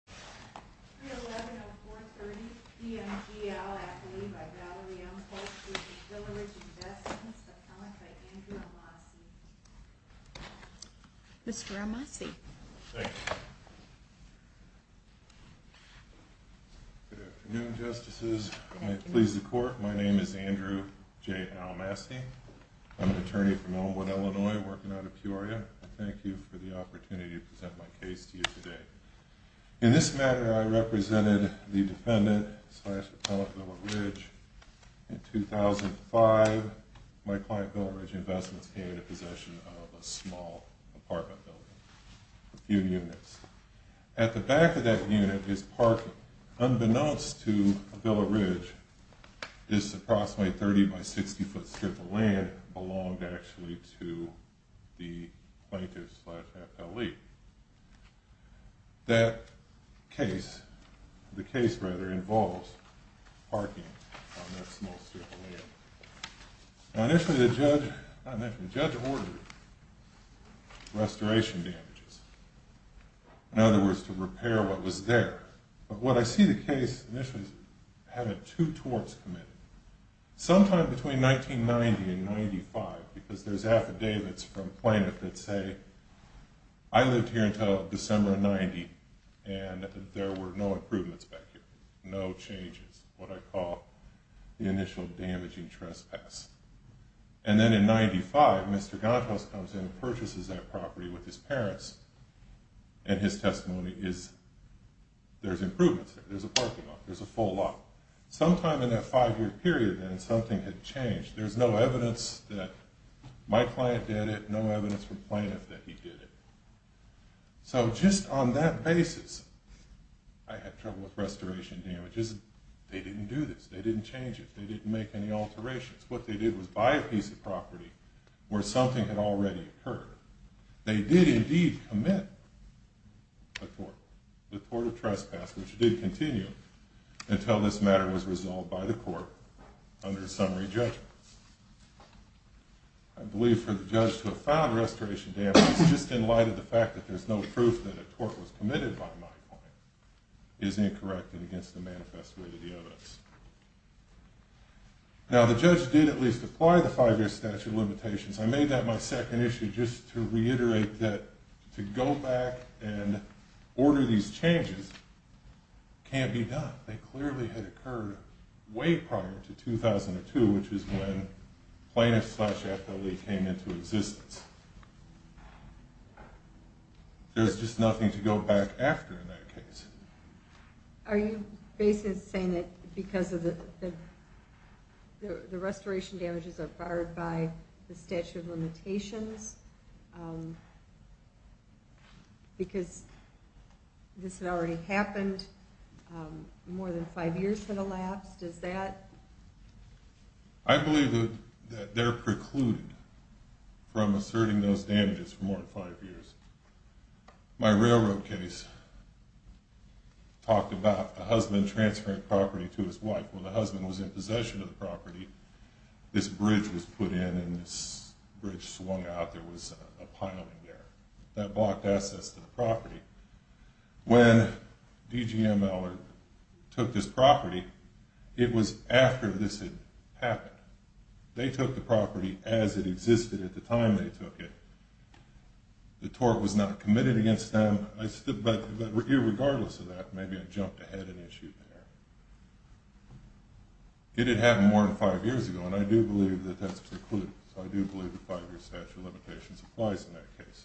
311-430-DMGL, L.L.C. v. Villa Ridge Investments, appellant by Andrew Almasy. Mr. Almasy. Thank you. Good afternoon, Justices. Good afternoon. If it pleases the Court, my name is Andrew J. Almasy. I'm an attorney from Oldwood, Illinois, working out of Peoria. Thank you for the opportunity to present my case to you today. In this matter, I represented the defendant-slash-appellant, Villa Ridge. In 2005, my client, Villa Ridge Investments, came into possession of a small apartment building, a few units. At the back of that unit is parking. Unbeknownst to Villa Ridge, this approximately 30-by-60-foot strip of land belonged actually to the plaintiff-slash-appellee. That case, the case rather, involves parking on that small strip of land. Now, initially, the judge ordered restoration damages. In other words, to repair what was there. But what I see the case, initially, having two torts committed. Sometime between 1990 and 1995, because there's affidavits from plaintiffs that say, I lived here until December of 1990, and there were no improvements back here. No changes. What I call the initial damaging trespass. And then in 1995, Mr. Gontos comes in and purchases that property with his parents. And his testimony is, there's improvements there. There's a parking lot. There's a full lot. Sometime in that five-year period, then, something had changed. There's no evidence that my client did it. No evidence from plaintiffs that he did it. So just on that basis, I had trouble with restoration damages. They didn't do this. They didn't change it. They didn't make any alterations. What they did was buy a piece of property where something had already occurred. They did, indeed, commit a tort. The tort of trespass, which did continue until this matter was resolved by the court under summary judgment. I believe for the judge to have filed restoration damages, just in light of the fact that there's no proof that a tort was committed by my client, is incorrect and against the manifest way of the evidence. Now, the judge did, at least, apply the five-year statute of limitations. I made that my second issue, just to reiterate that to go back and order these changes can't be done. They clearly had occurred way prior to 2002, which is when Plaintiff's Slash FLE came into existence. There's just nothing to go back after in that case. Are you basically saying that because the restoration damages are barred by the statute of limitations, because this had already happened, more than five years had elapsed? Is that? I believe that they're precluded from asserting those damages for more than five years. My railroad case talked about a husband transferring property to his wife. When the husband was in possession of the property, this bridge was put in and this bridge swung out. There was a piling there. That blocked access to the property. When DGML took this property, it was after this had happened. They took the property as it existed at the time they took it. The tort was not committed against them. But regardless of that, maybe it jumped ahead an issue there. It had happened more than five years ago, and I do believe that that's precluded. So I do believe the five-year statute of limitations applies in that case.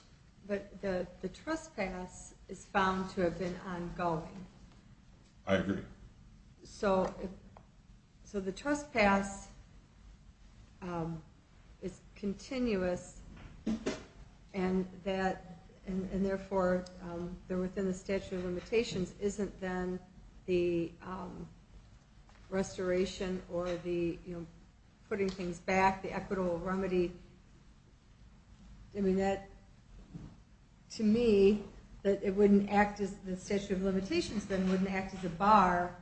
But the trespass is found to have been ongoing. I agree. So the trespass is continuous, and therefore, within the statute of limitations, isn't then the restoration or the putting things back, the equitable remedy. To me, the statute of limitations then wouldn't act as a bar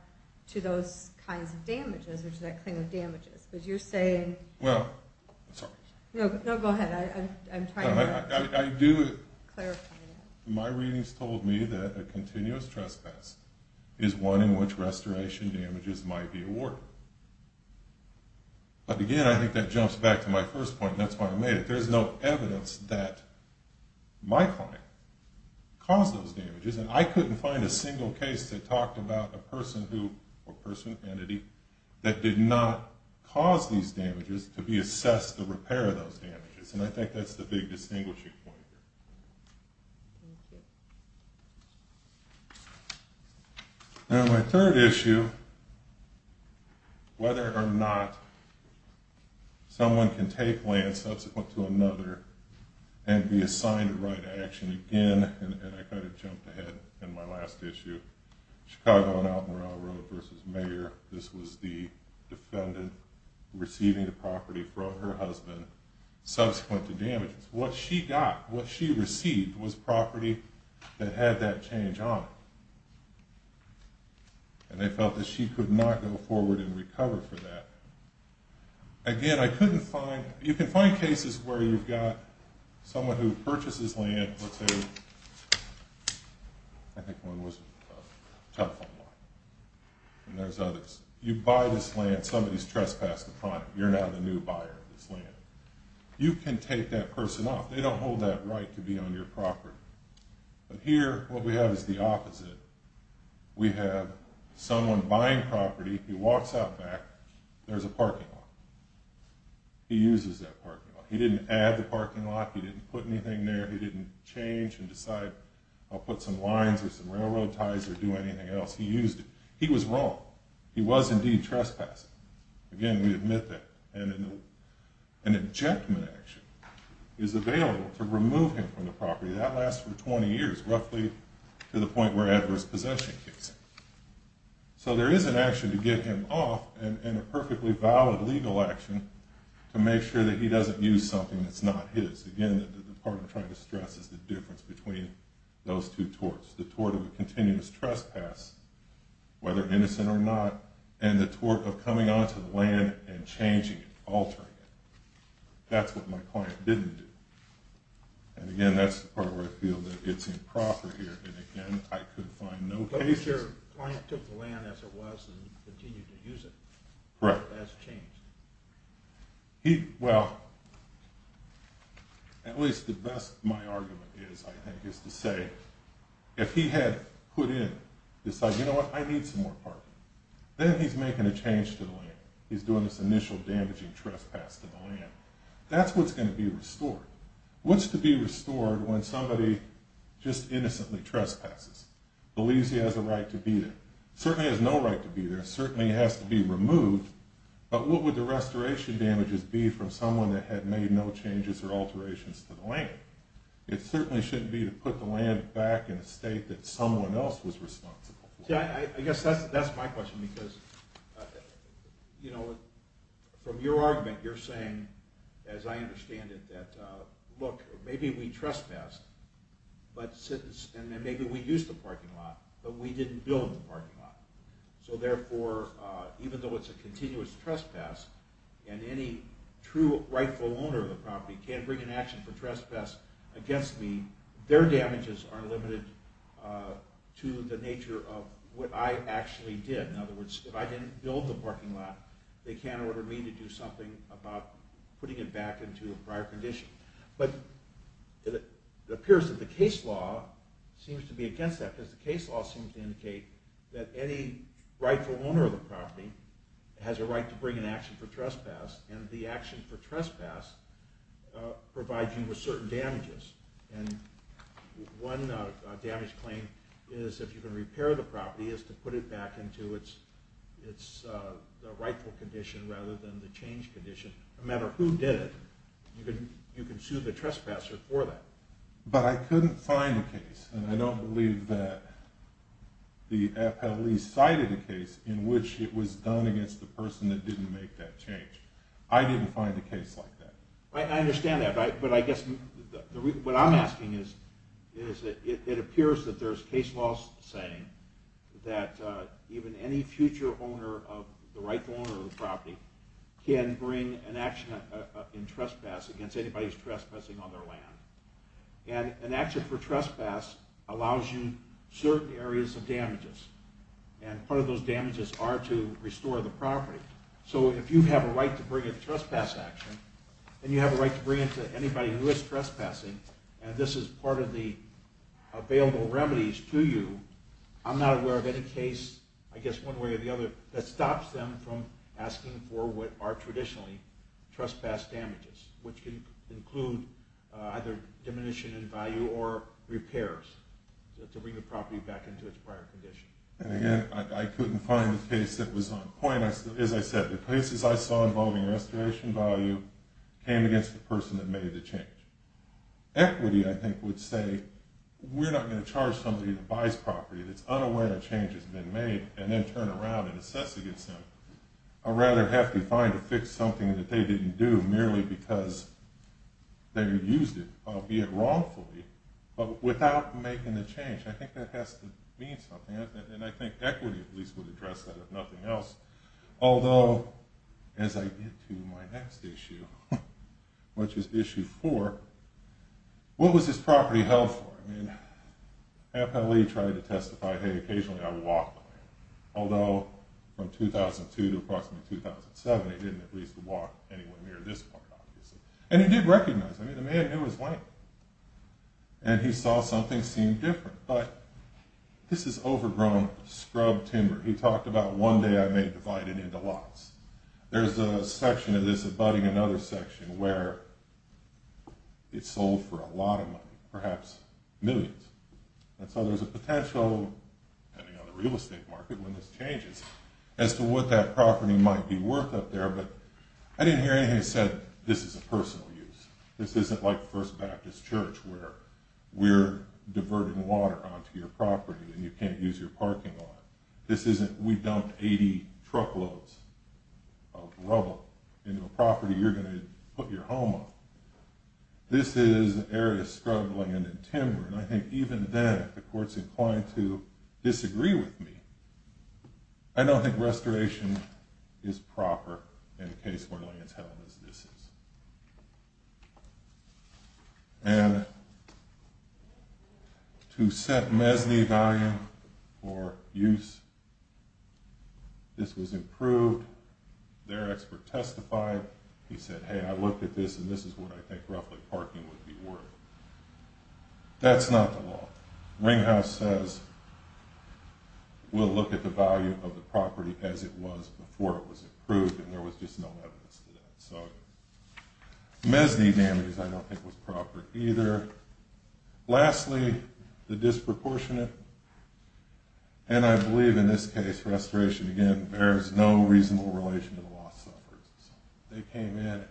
to those kinds of damages, or to that claim of damages, because you're saying... Well, I'm sorry. No, go ahead. I'm trying to clarify. My readings told me that a continuous trespass is one in which restoration damages might be awarded. But again, I think that jumps back to my first point, and that's why I made it. There's no evidence that my client caused those damages, and I couldn't find a single case that talked about a person who, or person, entity, that did not cause these damages to be assessed to repair those damages. And I think that's the big distinguishing point here. Thank you. Now, my third issue, whether or not someone can take land subsequent to another and be assigned to write action again, and I kind of jumped ahead in my last issue, Chicago and Alton Row Road v. Mayor. This was the defendant receiving the property from her husband subsequent to damages. What she got, what she received, was property that had that change on it. And they felt that she could not go forward and recover for that. Again, I couldn't find... You can find cases where you've got someone who purchases land, let's say... I think one was a telephone line, and there's others. You buy this land. Somebody's trespassed the property. You're now the new buyer of this land. You can take that person off. They don't hold that right to be on your property. But here, what we have is the opposite. We have someone buying property. He walks out back. There's a parking lot. He uses that parking lot. He didn't add the parking lot. He didn't put anything there. He didn't change and decide, I'll put some lines or some railroad ties or do anything else. He used it. He was wrong. He was indeed trespassing. Again, we admit that. And an injectment action is available to remove him from the property. That lasts for 20 years, roughly to the point where adverse possession kicks in. So there is an action to get him off, and a perfectly valid legal action to make sure that he doesn't use something that's not his. Again, the part I'm trying to stress is the difference between those two torts. The tort of a continuous trespass, whether innocent or not, and the tort of coming onto the land and changing it, altering it. That's what my client didn't do. And again, that's the part where I feel that it's improper here. And again, I could find no cases... But your client took the land as it was and continued to use it. Correct. That's changed. Well, at least the best my argument is, I think, is to say, if he had put in, decided, you know what, I need some more parking. Then he's making a change to the land. He's doing this initial damaging trespass to the land. That's what's going to be restored. What's to be restored when somebody just innocently trespasses? Believes he has a right to be there. Certainly has no right to be there. Certainly has to be removed. But what would the restoration damages be from someone that had made no changes or alterations to the land? It certainly shouldn't be to put the land back in a state that someone else was responsible for. I guess that's my question because, you know, from your argument, you're saying, as I understand it, that, look, maybe we trespassed, and then maybe we used the parking lot, but we didn't build the parking lot. So therefore, even though it's a continuous trespass, and any true rightful owner of the property can't bring an action for trespass against me, their damages are limited to the nature of what I actually did. In other words, if I didn't build the parking lot, they can't order me to do something about putting it back into a prior condition. But it appears that the case law seems to be against that because the case law seems to indicate that any rightful owner of the property has a right to bring an action for trespass, and the action for trespass provides you with certain damages. And one damage claim is, if you can repair the property, is to put it back into its rightful condition rather than the changed condition. No matter who did it, you can sue the trespasser for that. But I couldn't find a case, and I don't believe that the FLE cited a case in which it was done against the person that didn't make that change. I didn't find a case like that. I understand that, but I guess what I'm asking is, it appears that there's case laws saying that even any future rightful owner of the property can bring an action in trespass against anybody who's trespassing on their land. And an action for trespass allows you certain areas of damages, and part of those damages are to restore the property. So if you have a right to bring a trespass action, and you have a right to bring it to anybody who is trespassing, and this is part of the available remedies to you, I'm not aware of any case, I guess one way or the other, that stops them from asking for what are traditionally trespass damages, which can include either diminution in value or repairs to bring the property back into its prior condition. And again, I couldn't find a case that was on point. As I said, the cases I saw involving restoration value came against the person that made the change. Equity, I think, would say, we're not going to charge somebody that buys property that's unaware a change has been made, and then turn around and assess against them. I'd rather have them find or fix something that they didn't do merely because they used it, albeit wrongfully, but without making the change. I think that has to mean something, and I think equity at least would address that, if nothing else. Although, as I get to my next issue, which is issue four, what was this property held for? Appellee tried to testify, hey, occasionally I walked on it. Although, from 2002 to approximately 2007, he didn't at least walk anywhere near this part, obviously. And he did recognize, I mean, the man knew his way. And he saw something seemed different. But this is overgrown scrub timber. He talked about one day I may divide it into lots. There's a section of this abutting another section where it's sold for a lot of money, perhaps millions. And so there's a potential, depending on the real estate market when this changes, as to what that property might be worth up there. But I didn't hear anything that said this is a personal use. This isn't like First Baptist Church where we're diverting water onto your property and you can't use your parking lot. This isn't we dumped 80 truckloads of rubble into a property you're going to put your home on. This is an area of scrub land and timber. And I think even then, if the court's inclined to disagree with me, I don't think restoration is proper in a case where land's held as this is. And to set MESNY value for use, this was improved. Their expert testified. He said, hey, I looked at this, and this is what I think roughly parking would be worth. That's not the law. Ringhouse says we'll look at the value of the property as it was before it was approved, and there was just no evidence to that. So MESNY damage I don't think was proper either. Lastly, the disproportionate. And I believe in this case, restoration, again, bears no reasonable relation to the loss suffered. They came in and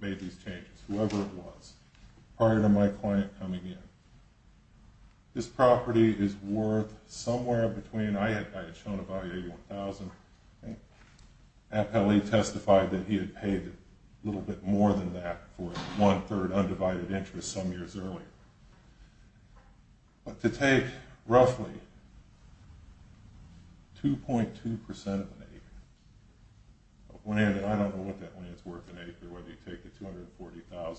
made these changes, whoever it was, prior to my client coming in. This property is worth somewhere between... I had shown a value of $1,000. Appellee testified that he had paid a little bit more than that for one-third undivided interest some years earlier. But to take roughly 2.2% of an acre... I don't know what that land's worth in acre, whether you take the $240,000.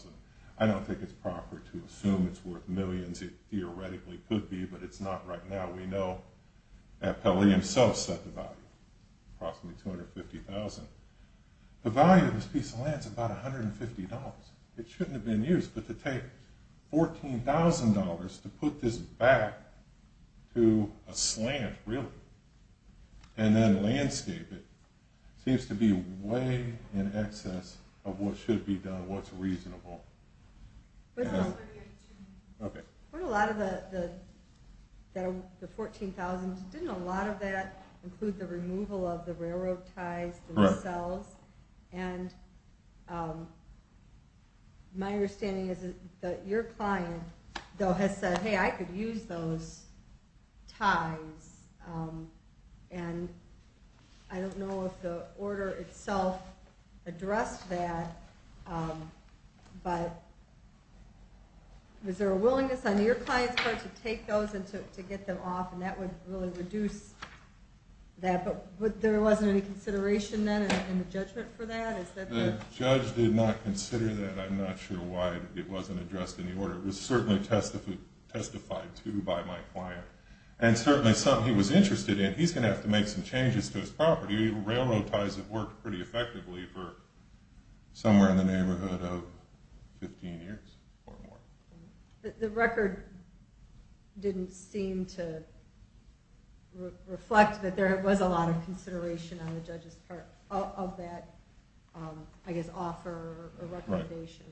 I don't think it's proper to assume it's worth millions. It theoretically could be, but it's not right now. We know Appellee himself set the value, approximately $250,000. The value of this piece of land is about $150. It shouldn't have been used, but to take $14,000 to put this back to a slant, really, and then landscape it seems to be way in excess of what should be done, what's reasonable. Okay. For a lot of the $14,000, didn't a lot of that include the removal of the railroad ties themselves? And my understanding is that your client, though, has said, hey, I could use those ties. And I don't know if the order itself addressed that, but was there a willingness on your client's part to take those and to get them off, and that would really reduce that, but there wasn't any consideration then in the judgment for that? The judge did not consider that. I'm not sure why it wasn't addressed in the order. It was certainly testified to by my client, and certainly something he was interested in. He's going to have to make some changes to his property. Railroad ties have worked pretty effectively for somewhere in the neighborhood of 15 years or more. The record didn't seem to reflect that there was a lot of consideration on the judge's part of that, I guess, offer or recommendation.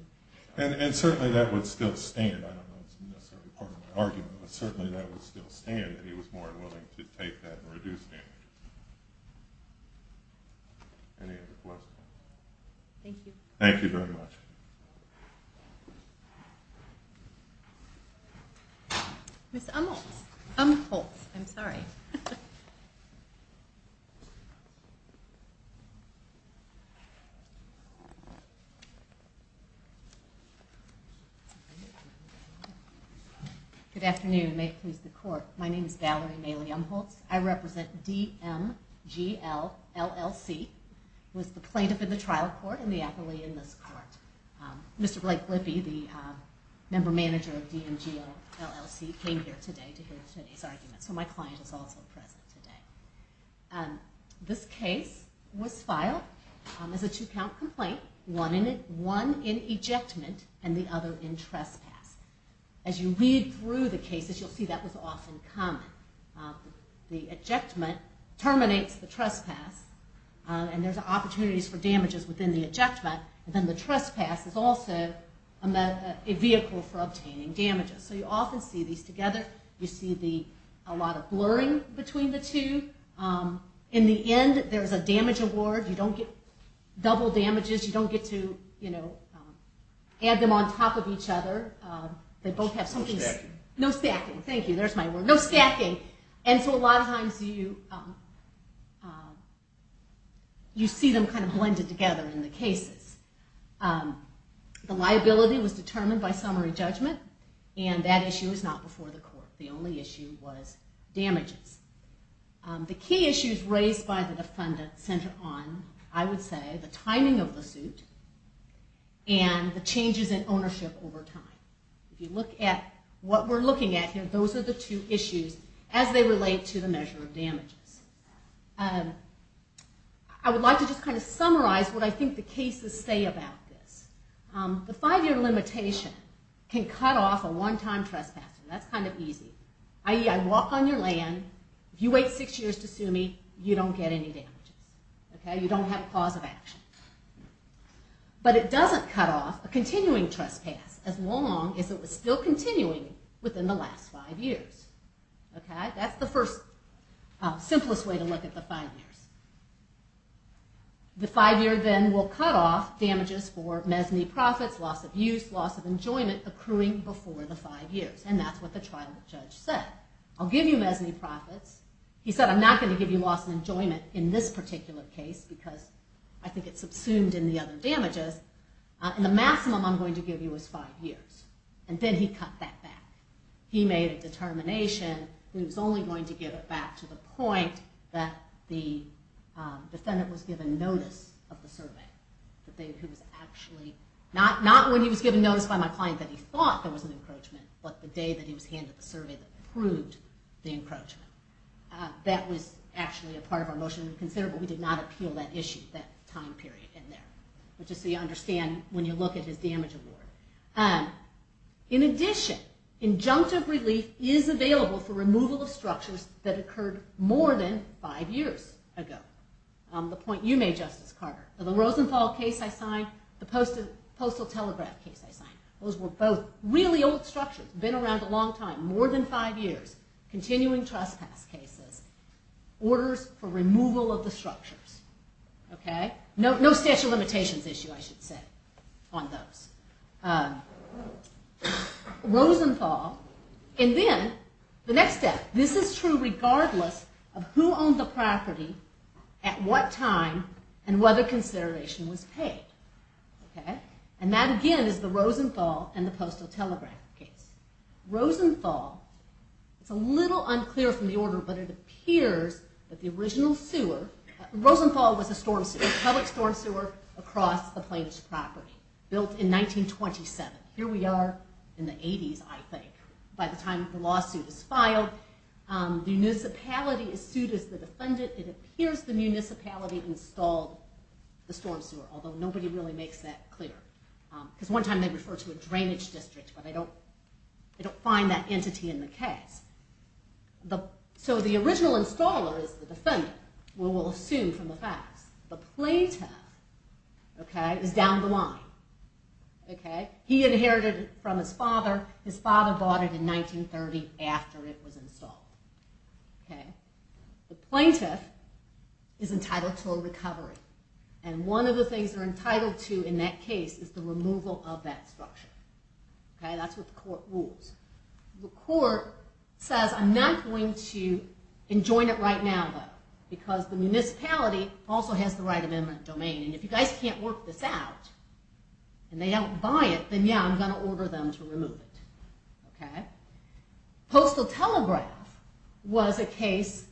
And certainly that would still stand. I don't know if that's necessarily part of my argument, but certainly that would still stand, and he was more than willing to take that and reduce damage. Any other questions? Thank you. Thank you very much. Ms. Umholtz. Umholtz. I'm sorry. Good afternoon. May it please the Court. My name is Valerie Maile Umholtz. I represent DMGL LLC. I was the plaintiff in the trial court and the appellee in this court. Mr. Blake Lippy, the member manager of DMGL LLC, came here today to hear today's argument, so my client is also present today. This case was filed as a two-count complaint, one in ejectment and the other in trespass. As you read through the cases, you'll see that was often common. The ejectment terminates the trespass, and there's opportunities for damages within the ejectment, and then the trespass is also a vehicle for obtaining damages. So you often see these together. You see a lot of blurring between the two. In the end, there's a damage award. You don't get double damages. You don't get to add them on top of each other. They both have something... No stacking. No stacking. Thank you. There's my word. No stacking. And so a lot of times you see them kind of blended together in the cases. The liability was determined by summary judgment, and that issue is not before the court. The only issue was damages. The key issues raised by the defendant center on, I would say, the timing of the suit and the changes in ownership over time. If you look at what we're looking at here, those are the two issues as they relate to the measure of damages. I would like to just kind of summarize what I think the cases say about this. The five-year limitation can cut off a one-time trespasser. That's kind of easy. I.e., I walk on your land. If you wait six years to sue me, you don't get any damages. You don't have a cause of action. But it doesn't cut off a continuing trespass as long as it was still continuing within the last five years. That's the first, simplest way to look at the five years. The five-year then will cut off damages for mezzanine profits, loss of use, loss of enjoyment accruing before the five years, and that's what the trial judge said. I'll give you mezzanine profits. He said, I'm not going to give you loss of enjoyment in this particular case because I think it subsumed in the other damages, and the maximum I'm going to give you is five years. And then he cut that back. He made a determination that he was only going to give it back to the point that the defendant was given notice of the survey, the day he was actually, not when he was given notice by my client that he thought there was an encroachment, but the day that he was handed the survey that proved the encroachment. That was actually a part of our motion to consider, but we did not appeal that issue, that time period in there, just so you understand when you look at his damage award. In addition, injunctive relief is available for removal of structures that occurred more than five years ago. The point you made, Justice Carter, the Rosenthal case I signed, the Postal Telegraph case I signed. Those were both really old structures, been around a long time, more than five years, continuing trespass cases, orders for removal of the structures. No statute of limitations issue, I should say, on those. Rosenthal, and then the next step, this is true regardless of who owned the property, at what time, and whether consideration was paid. And that again is the Rosenthal and the Postal Telegraph case. Rosenthal, it's a little unclear from the order, but it appears that the original sewer, Rosenthal was a public storm sewer across the plaintiff's property, built in 1927. Here we are in the 80s, I think, by the time the lawsuit is filed. The municipality is sued as the defendant. It appears the municipality installed the storm sewer, although nobody really makes that clear. Because one time they referred to a drainage district, but they don't find that entity in the case. So the original installer is the defendant, we will assume from the facts. The plaintiff is down the line. He inherited it from his father, his father bought it in 1930 The plaintiff is entitled to a recovery. And one of the things they're entitled to in that case is the removal of that structure. That's what the court rules. The court says, I'm not going to enjoin it right now, because the municipality also has the right of eminent domain, and if you guys can't work this out, and they don't buy it, then yeah, I'm going to order them to remove it. Postal Telegraph was a case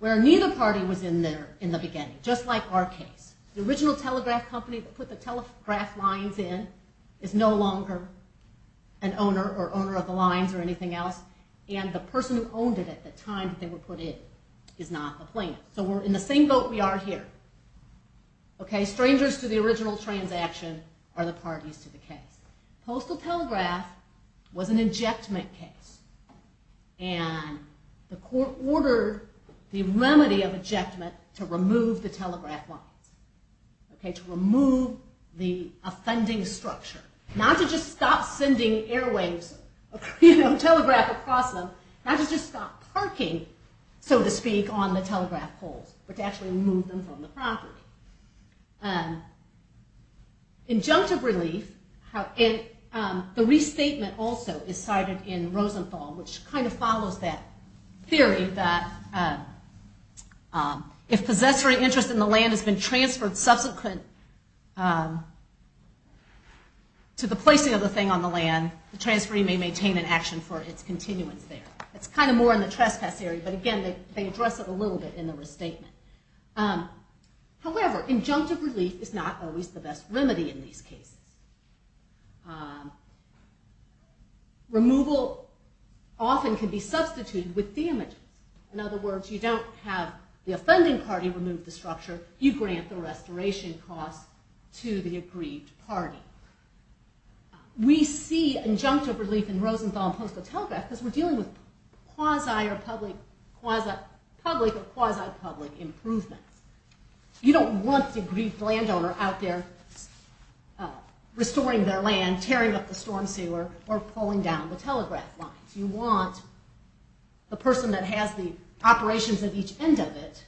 where neither party was in there in the beginning, just like our case. The original telegraph company that put the telegraph lines in is no longer an owner or owner of the lines or anything else, and the person who owned it at the time that they were put in is not the plaintiff. So we're in the same boat we are here. Strangers to the original transaction are the parties to the case. Postal Telegraph was an injectment case. And the court ordered the remedy of ejectment to remove the telegraph lines, to remove the offending structure. Not to just stop sending airwaves of telegraph across them, not to just stop parking, so to speak, on the telegraph poles, but to actually move them from the property. Injunctive relief, the restatement also is cited in Rosenthal, which kind of follows that theory that if possessory interest in the land has been transferred subsequent to the placing of the thing on the land, the transferee may maintain an action for its continuance there. It's kind of more in the trespass area, but again, they address it a little bit in the restatement. However, injunctive relief is not always the best remedy in these cases. Removal often can be substituted with damages. In other words, you don't have the offending party remove the structure, you grant the restoration costs to the aggrieved party. We see injunctive relief in Rosenthal and Postal Telegraph because we're dealing with quasi or public, quasi-public or quasi-public improvements. You don't want the aggrieved landowner out there restoring their land, tearing up the storm sewer, or pulling down the telegraph lines. You want the person that has the operations at each end of it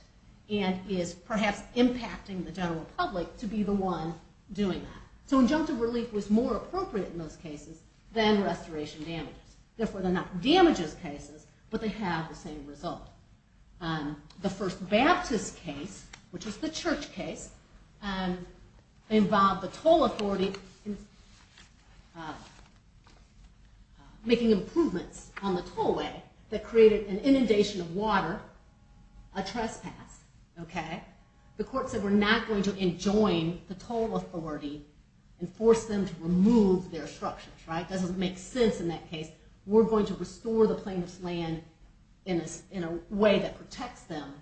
and is perhaps impacting the general public to be the one doing that. So injunctive relief was more appropriate in those cases than restoration damages. Therefore, they're not damages cases, but they have the same result. The First Baptist case, which was the church case, involved the toll authority making improvements on the tollway that created an inundation of water, a trespass. The court said we're not going to enjoin the toll authority and force them to remove their structures. It doesn't make sense in that case. We're going to restore the plaintiff's land in a way that protects them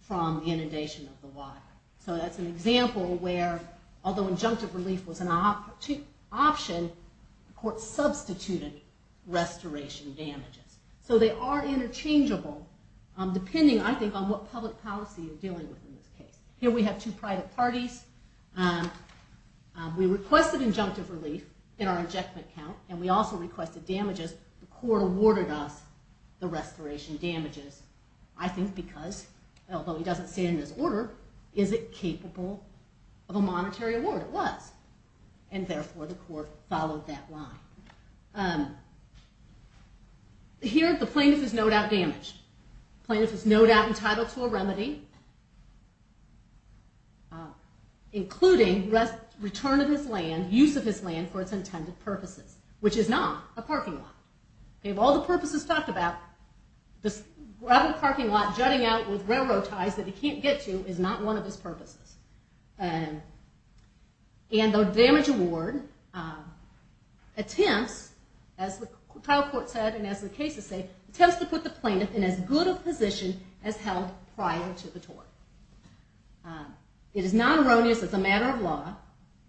from the inundation of the water. So that's an example where, although injunctive relief was an option, the court substituted restoration damages. So they are interchangeable, depending, I think, on what public policy you're dealing with in this case. Here we have two private parties. We requested injunctive relief in our injectment count, and we also requested damages. The court awarded us the restoration damages, I think because, although he doesn't stand in his order, is it capable of a monetary award? It was. And therefore, the court followed that line. Here, the plaintiff is no doubt damaged. The plaintiff is no doubt entitled to a remedy, including return of his land, and use of his land for its intended purposes, which is not a parking lot. Of all the purposes talked about, this gravel parking lot jutting out with railroad ties that he can't get to is not one of his purposes. And the damage award attempts, as the trial court said and as the cases say, attempts to put the plaintiff in as good a position as held prior to the tort. It is not erroneous as a matter of law,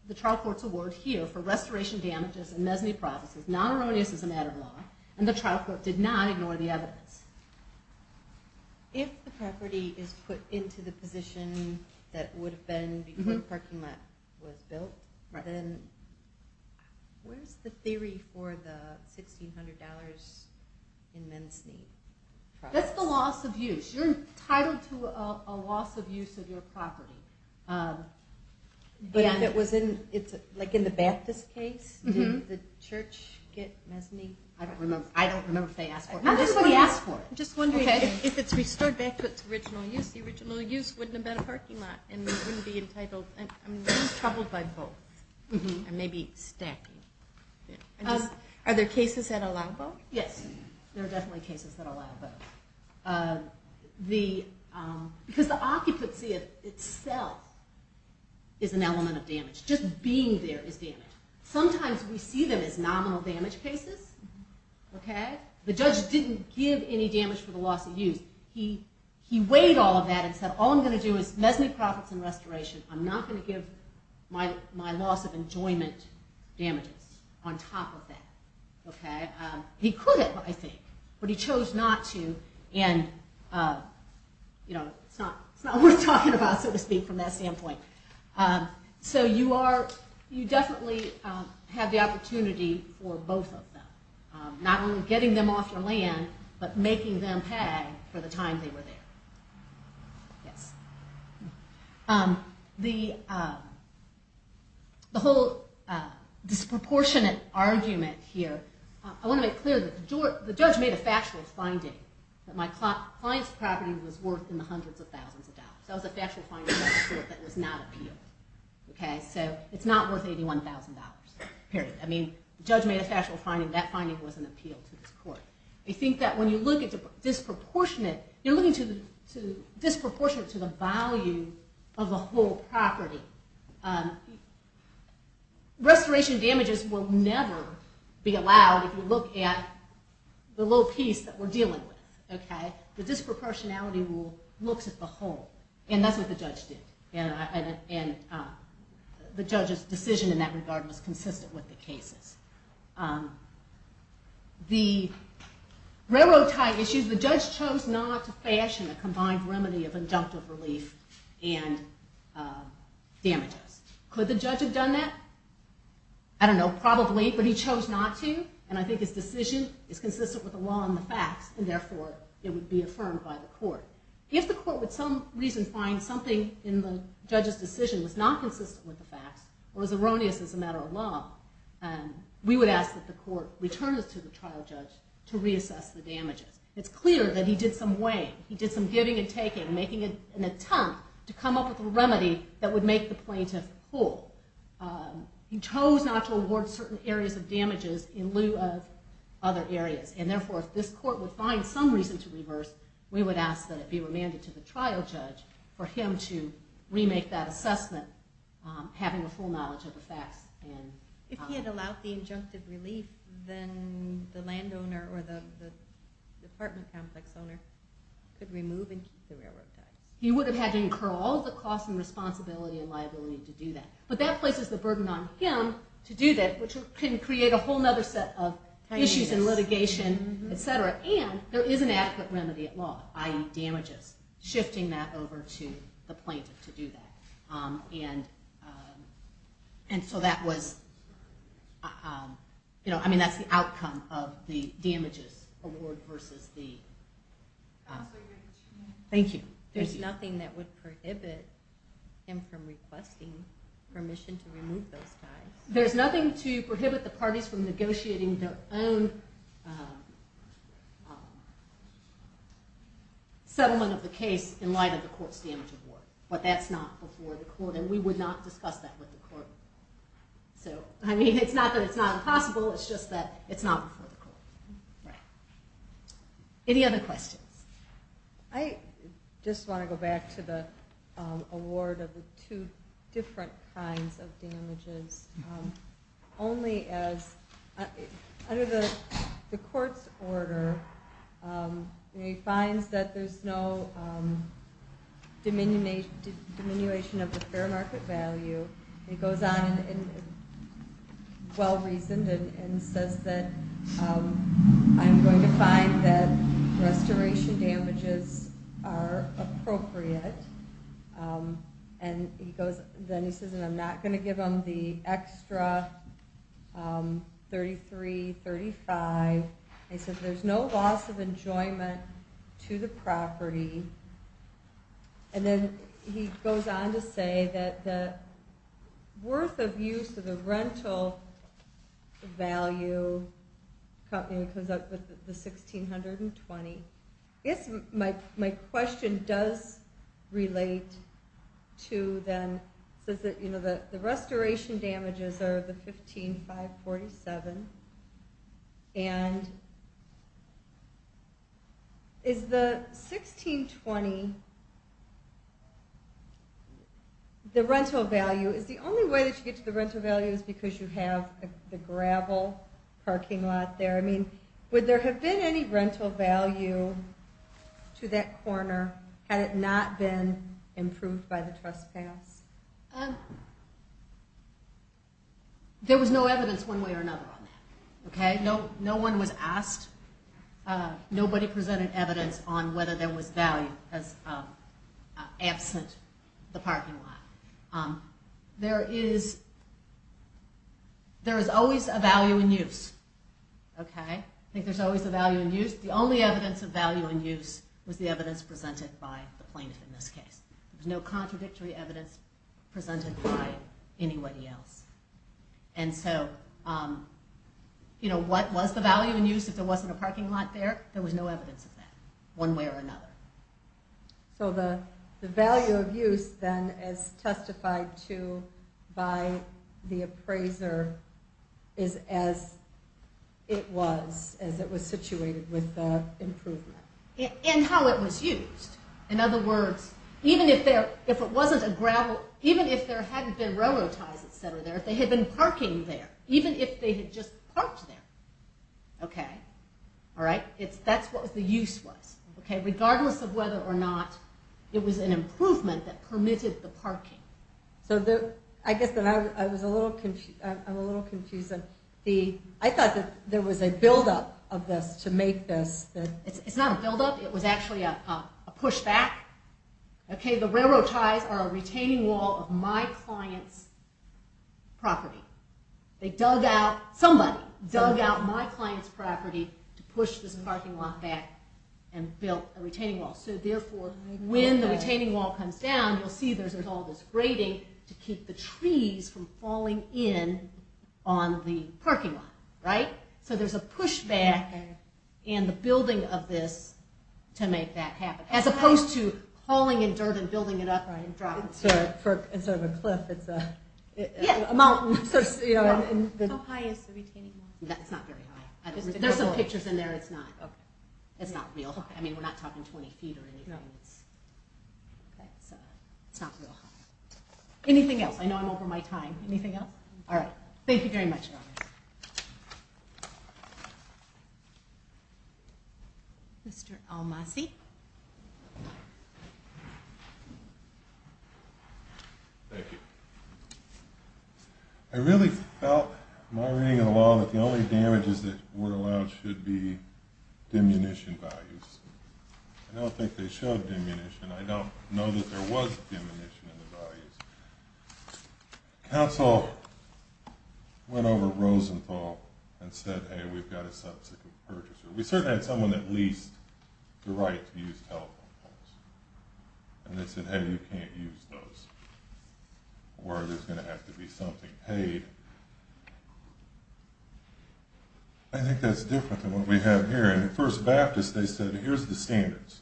the trial court's award here, for restoration damages and mezzanine processes, not erroneous as a matter of law, and the trial court did not ignore the evidence. If the property is put into the position that it would have been before the parking lot was built, then where's the theory for the $1,600 in mezzanine? That's the loss of use. You're entitled to a loss of use of your property. But if it was in the Baptist case, did the church get mezzanine? I don't remember if they asked for it. I'm just wondering if it's restored back to its original use, the original use wouldn't have been a parking lot and wouldn't be entitled. I'm really troubled by both. And maybe stacking. Are there cases that allow both? Yes, there are definitely cases that allow both. Because the occupancy itself is an element of damage. Just being there is damage. Sometimes we see them as nominal damage cases. The judge didn't give any damage for the loss of use. He weighed all of that and said, all I'm going to do is mezzanine process and restoration. I'm not going to give my loss of enjoyment damages on top of that. He could have, I think, but he chose not to. And it's not worth talking about, so to speak, from that standpoint. So you definitely have the opportunity for both of them. Not only getting them off your land, but making them pay for the time they were there. The whole disproportionate argument here, I want to make clear that the judge made a factual finding that my client's property was worth in the hundreds of thousands of dollars. That was a factual finding of the court that was not appealed. So it's not worth $81,000, period. I mean, the judge made a factual finding. That finding was an appeal to this court. I think that when you look at disproportionate, you're looking at disproportionate to the value of the whole property. Restoration damages will never be allowed if you look at the little piece that we're dealing with. The disproportionality rule looks at the whole. And that's what the judge did. And the judge's decision in that regard was consistent with the cases. The railroad tie issue, the judge chose not to fashion a combined remedy of injunctive relief and damages. Could the judge have done that? I don't know, probably, but he chose not to. And I think his decision is consistent with the law and the facts, and therefore it would be affirmed by the court. If the court would for some reason find something in the judge's decision was not consistent with the facts or was erroneous as a matter of law, to reassess the damages. It's clear that he did some weighing. He did some giving and taking, making an attempt to come up with a remedy that would make the plaintiff whole. He chose not to award certain areas of damages in lieu of other areas. And therefore, if this court would find some reason to reverse, we would ask that it be remanded to the trial judge for him to remake that assessment, having a full knowledge of the facts. If he had allowed the injunctive relief, then the landowner or the apartment complex owner could remove and keep the railroad ties. He would have had to incur all the costs and responsibility and liability to do that. But that places the burden on him to do that, which can create a whole other set of issues and litigation, et cetera. And there is an adequate remedy at law, i.e. damages, shifting that over to the plaintiff to do that. And so that was, I mean, that's the outcome of the damages award versus the... Counsel, you have two minutes. Thank you. There's nothing that would prohibit him from requesting permission to remove those ties. There's nothing to prohibit the parties from negotiating their own settlement of the case in light of the court's damage award. But that's not before the court, and we would not discuss that with the court. So, I mean, it's not that it's not impossible, it's just that it's not before the court. Right. Any other questions? I just want to go back to the award of the two different kinds of damages. Only as, under the court's order, he finds that there's no diminution of the fair market value. He goes on, well-reasoned, and says that I'm going to find that restoration damages are appropriate. And then he says, and I'm not going to give him the extra $33,000, $35,000. He says there's no loss of enjoyment to the property. And then he goes on to say that the worth of use of the rental value company comes out with the $1,620. I guess my question does relate to then, says that the restoration damages are the $15,547, and is the $1,620 the rental value? Is the only way that you get to the rental value is because you have the gravel parking lot there? I mean, would there have been any rental value to that corner had it not been improved by the trespass? There was no evidence one way or another on that. No one was asked. Nobody presented evidence on whether there was value as absent the parking lot. There is always a value in use. I think there's always a value in use. The only evidence of value in use was the evidence presented by the plaintiff in this case. There was no contradictory evidence presented by anybody else. And so what was the value in use if there wasn't a parking lot there? There was no evidence of that one way or another. So the value of use then is testified to by the appraiser as it was, as it was situated with the improvement. And how it was used. In other words, even if it wasn't a gravel, even if there hadn't been railroad ties, et cetera, there, if they had been parking there, even if they had just parked there, okay, all right, that's what the use was, that permitted the parking. So I guess I'm a little confused. I thought that there was a buildup of this to make this. It's not a buildup. It was actually a pushback. Okay, the railroad ties are a retaining wall of my client's property. They dug out, somebody dug out my client's property to push this parking lot back and built a retaining wall. So therefore, when the retaining wall comes down, you'll see there's all this grating to keep the trees from falling in on the parking lot, right? So there's a pushback in the building of this to make that happen as opposed to hauling in dirt and building it up and dropping it. Instead of a cliff, it's a mountain. How high is the retaining wall? It's not very high. There's some pictures in there. It's not real high. I mean, we're not talking 20 feet or anything. Okay, so it's not real high. Anything else? I know I'm over my time. Anything else? All right, thank you very much. Mr. Almasi. Thank you. I really felt in my reading of the law that the only damages that were allowed should be diminution values. I don't think they showed diminution. I don't know that there was diminution in the values. Council went over Rosenthal and said, hey, we've got a subsequent purchaser. We certainly had someone that leased the right to use telephone poles. And they said, hey, you can't use those or there's going to have to be something paid. I think that's different than what we have here. In the First Baptist, they said, here's the standards.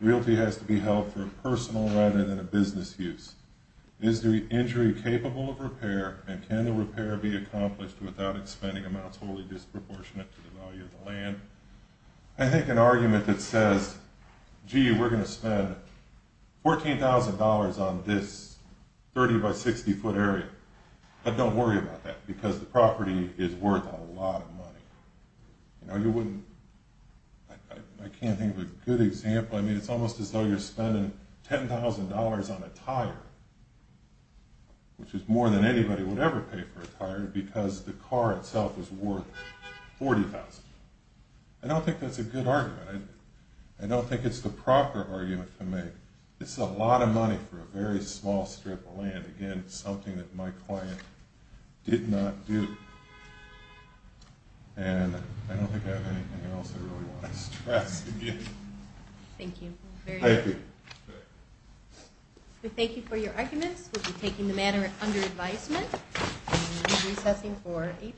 Realty has to be held for a personal rather than a business use. Is the injury capable of repair? And can the repair be accomplished without expending amounts wholly disproportionate to the value of the land? I think an argument that says, gee, we're going to spend $14,000 on this 30-by-60-foot area. I can't think of a good example. I mean, it's almost as though you're spending $10,000 on a tire, which is more than anybody would ever pay for a tire because the car itself is worth $40,000. I don't think that's a good argument. I don't think it's the proper argument to make. This is a lot of money for a very small strip of land. Again, something that my client did not do. And I don't think I have anything else I really want to stress again. Thank you. Thank you. We thank you for your arguments. We'll be taking the matter under advisement and recessing for eight minutes.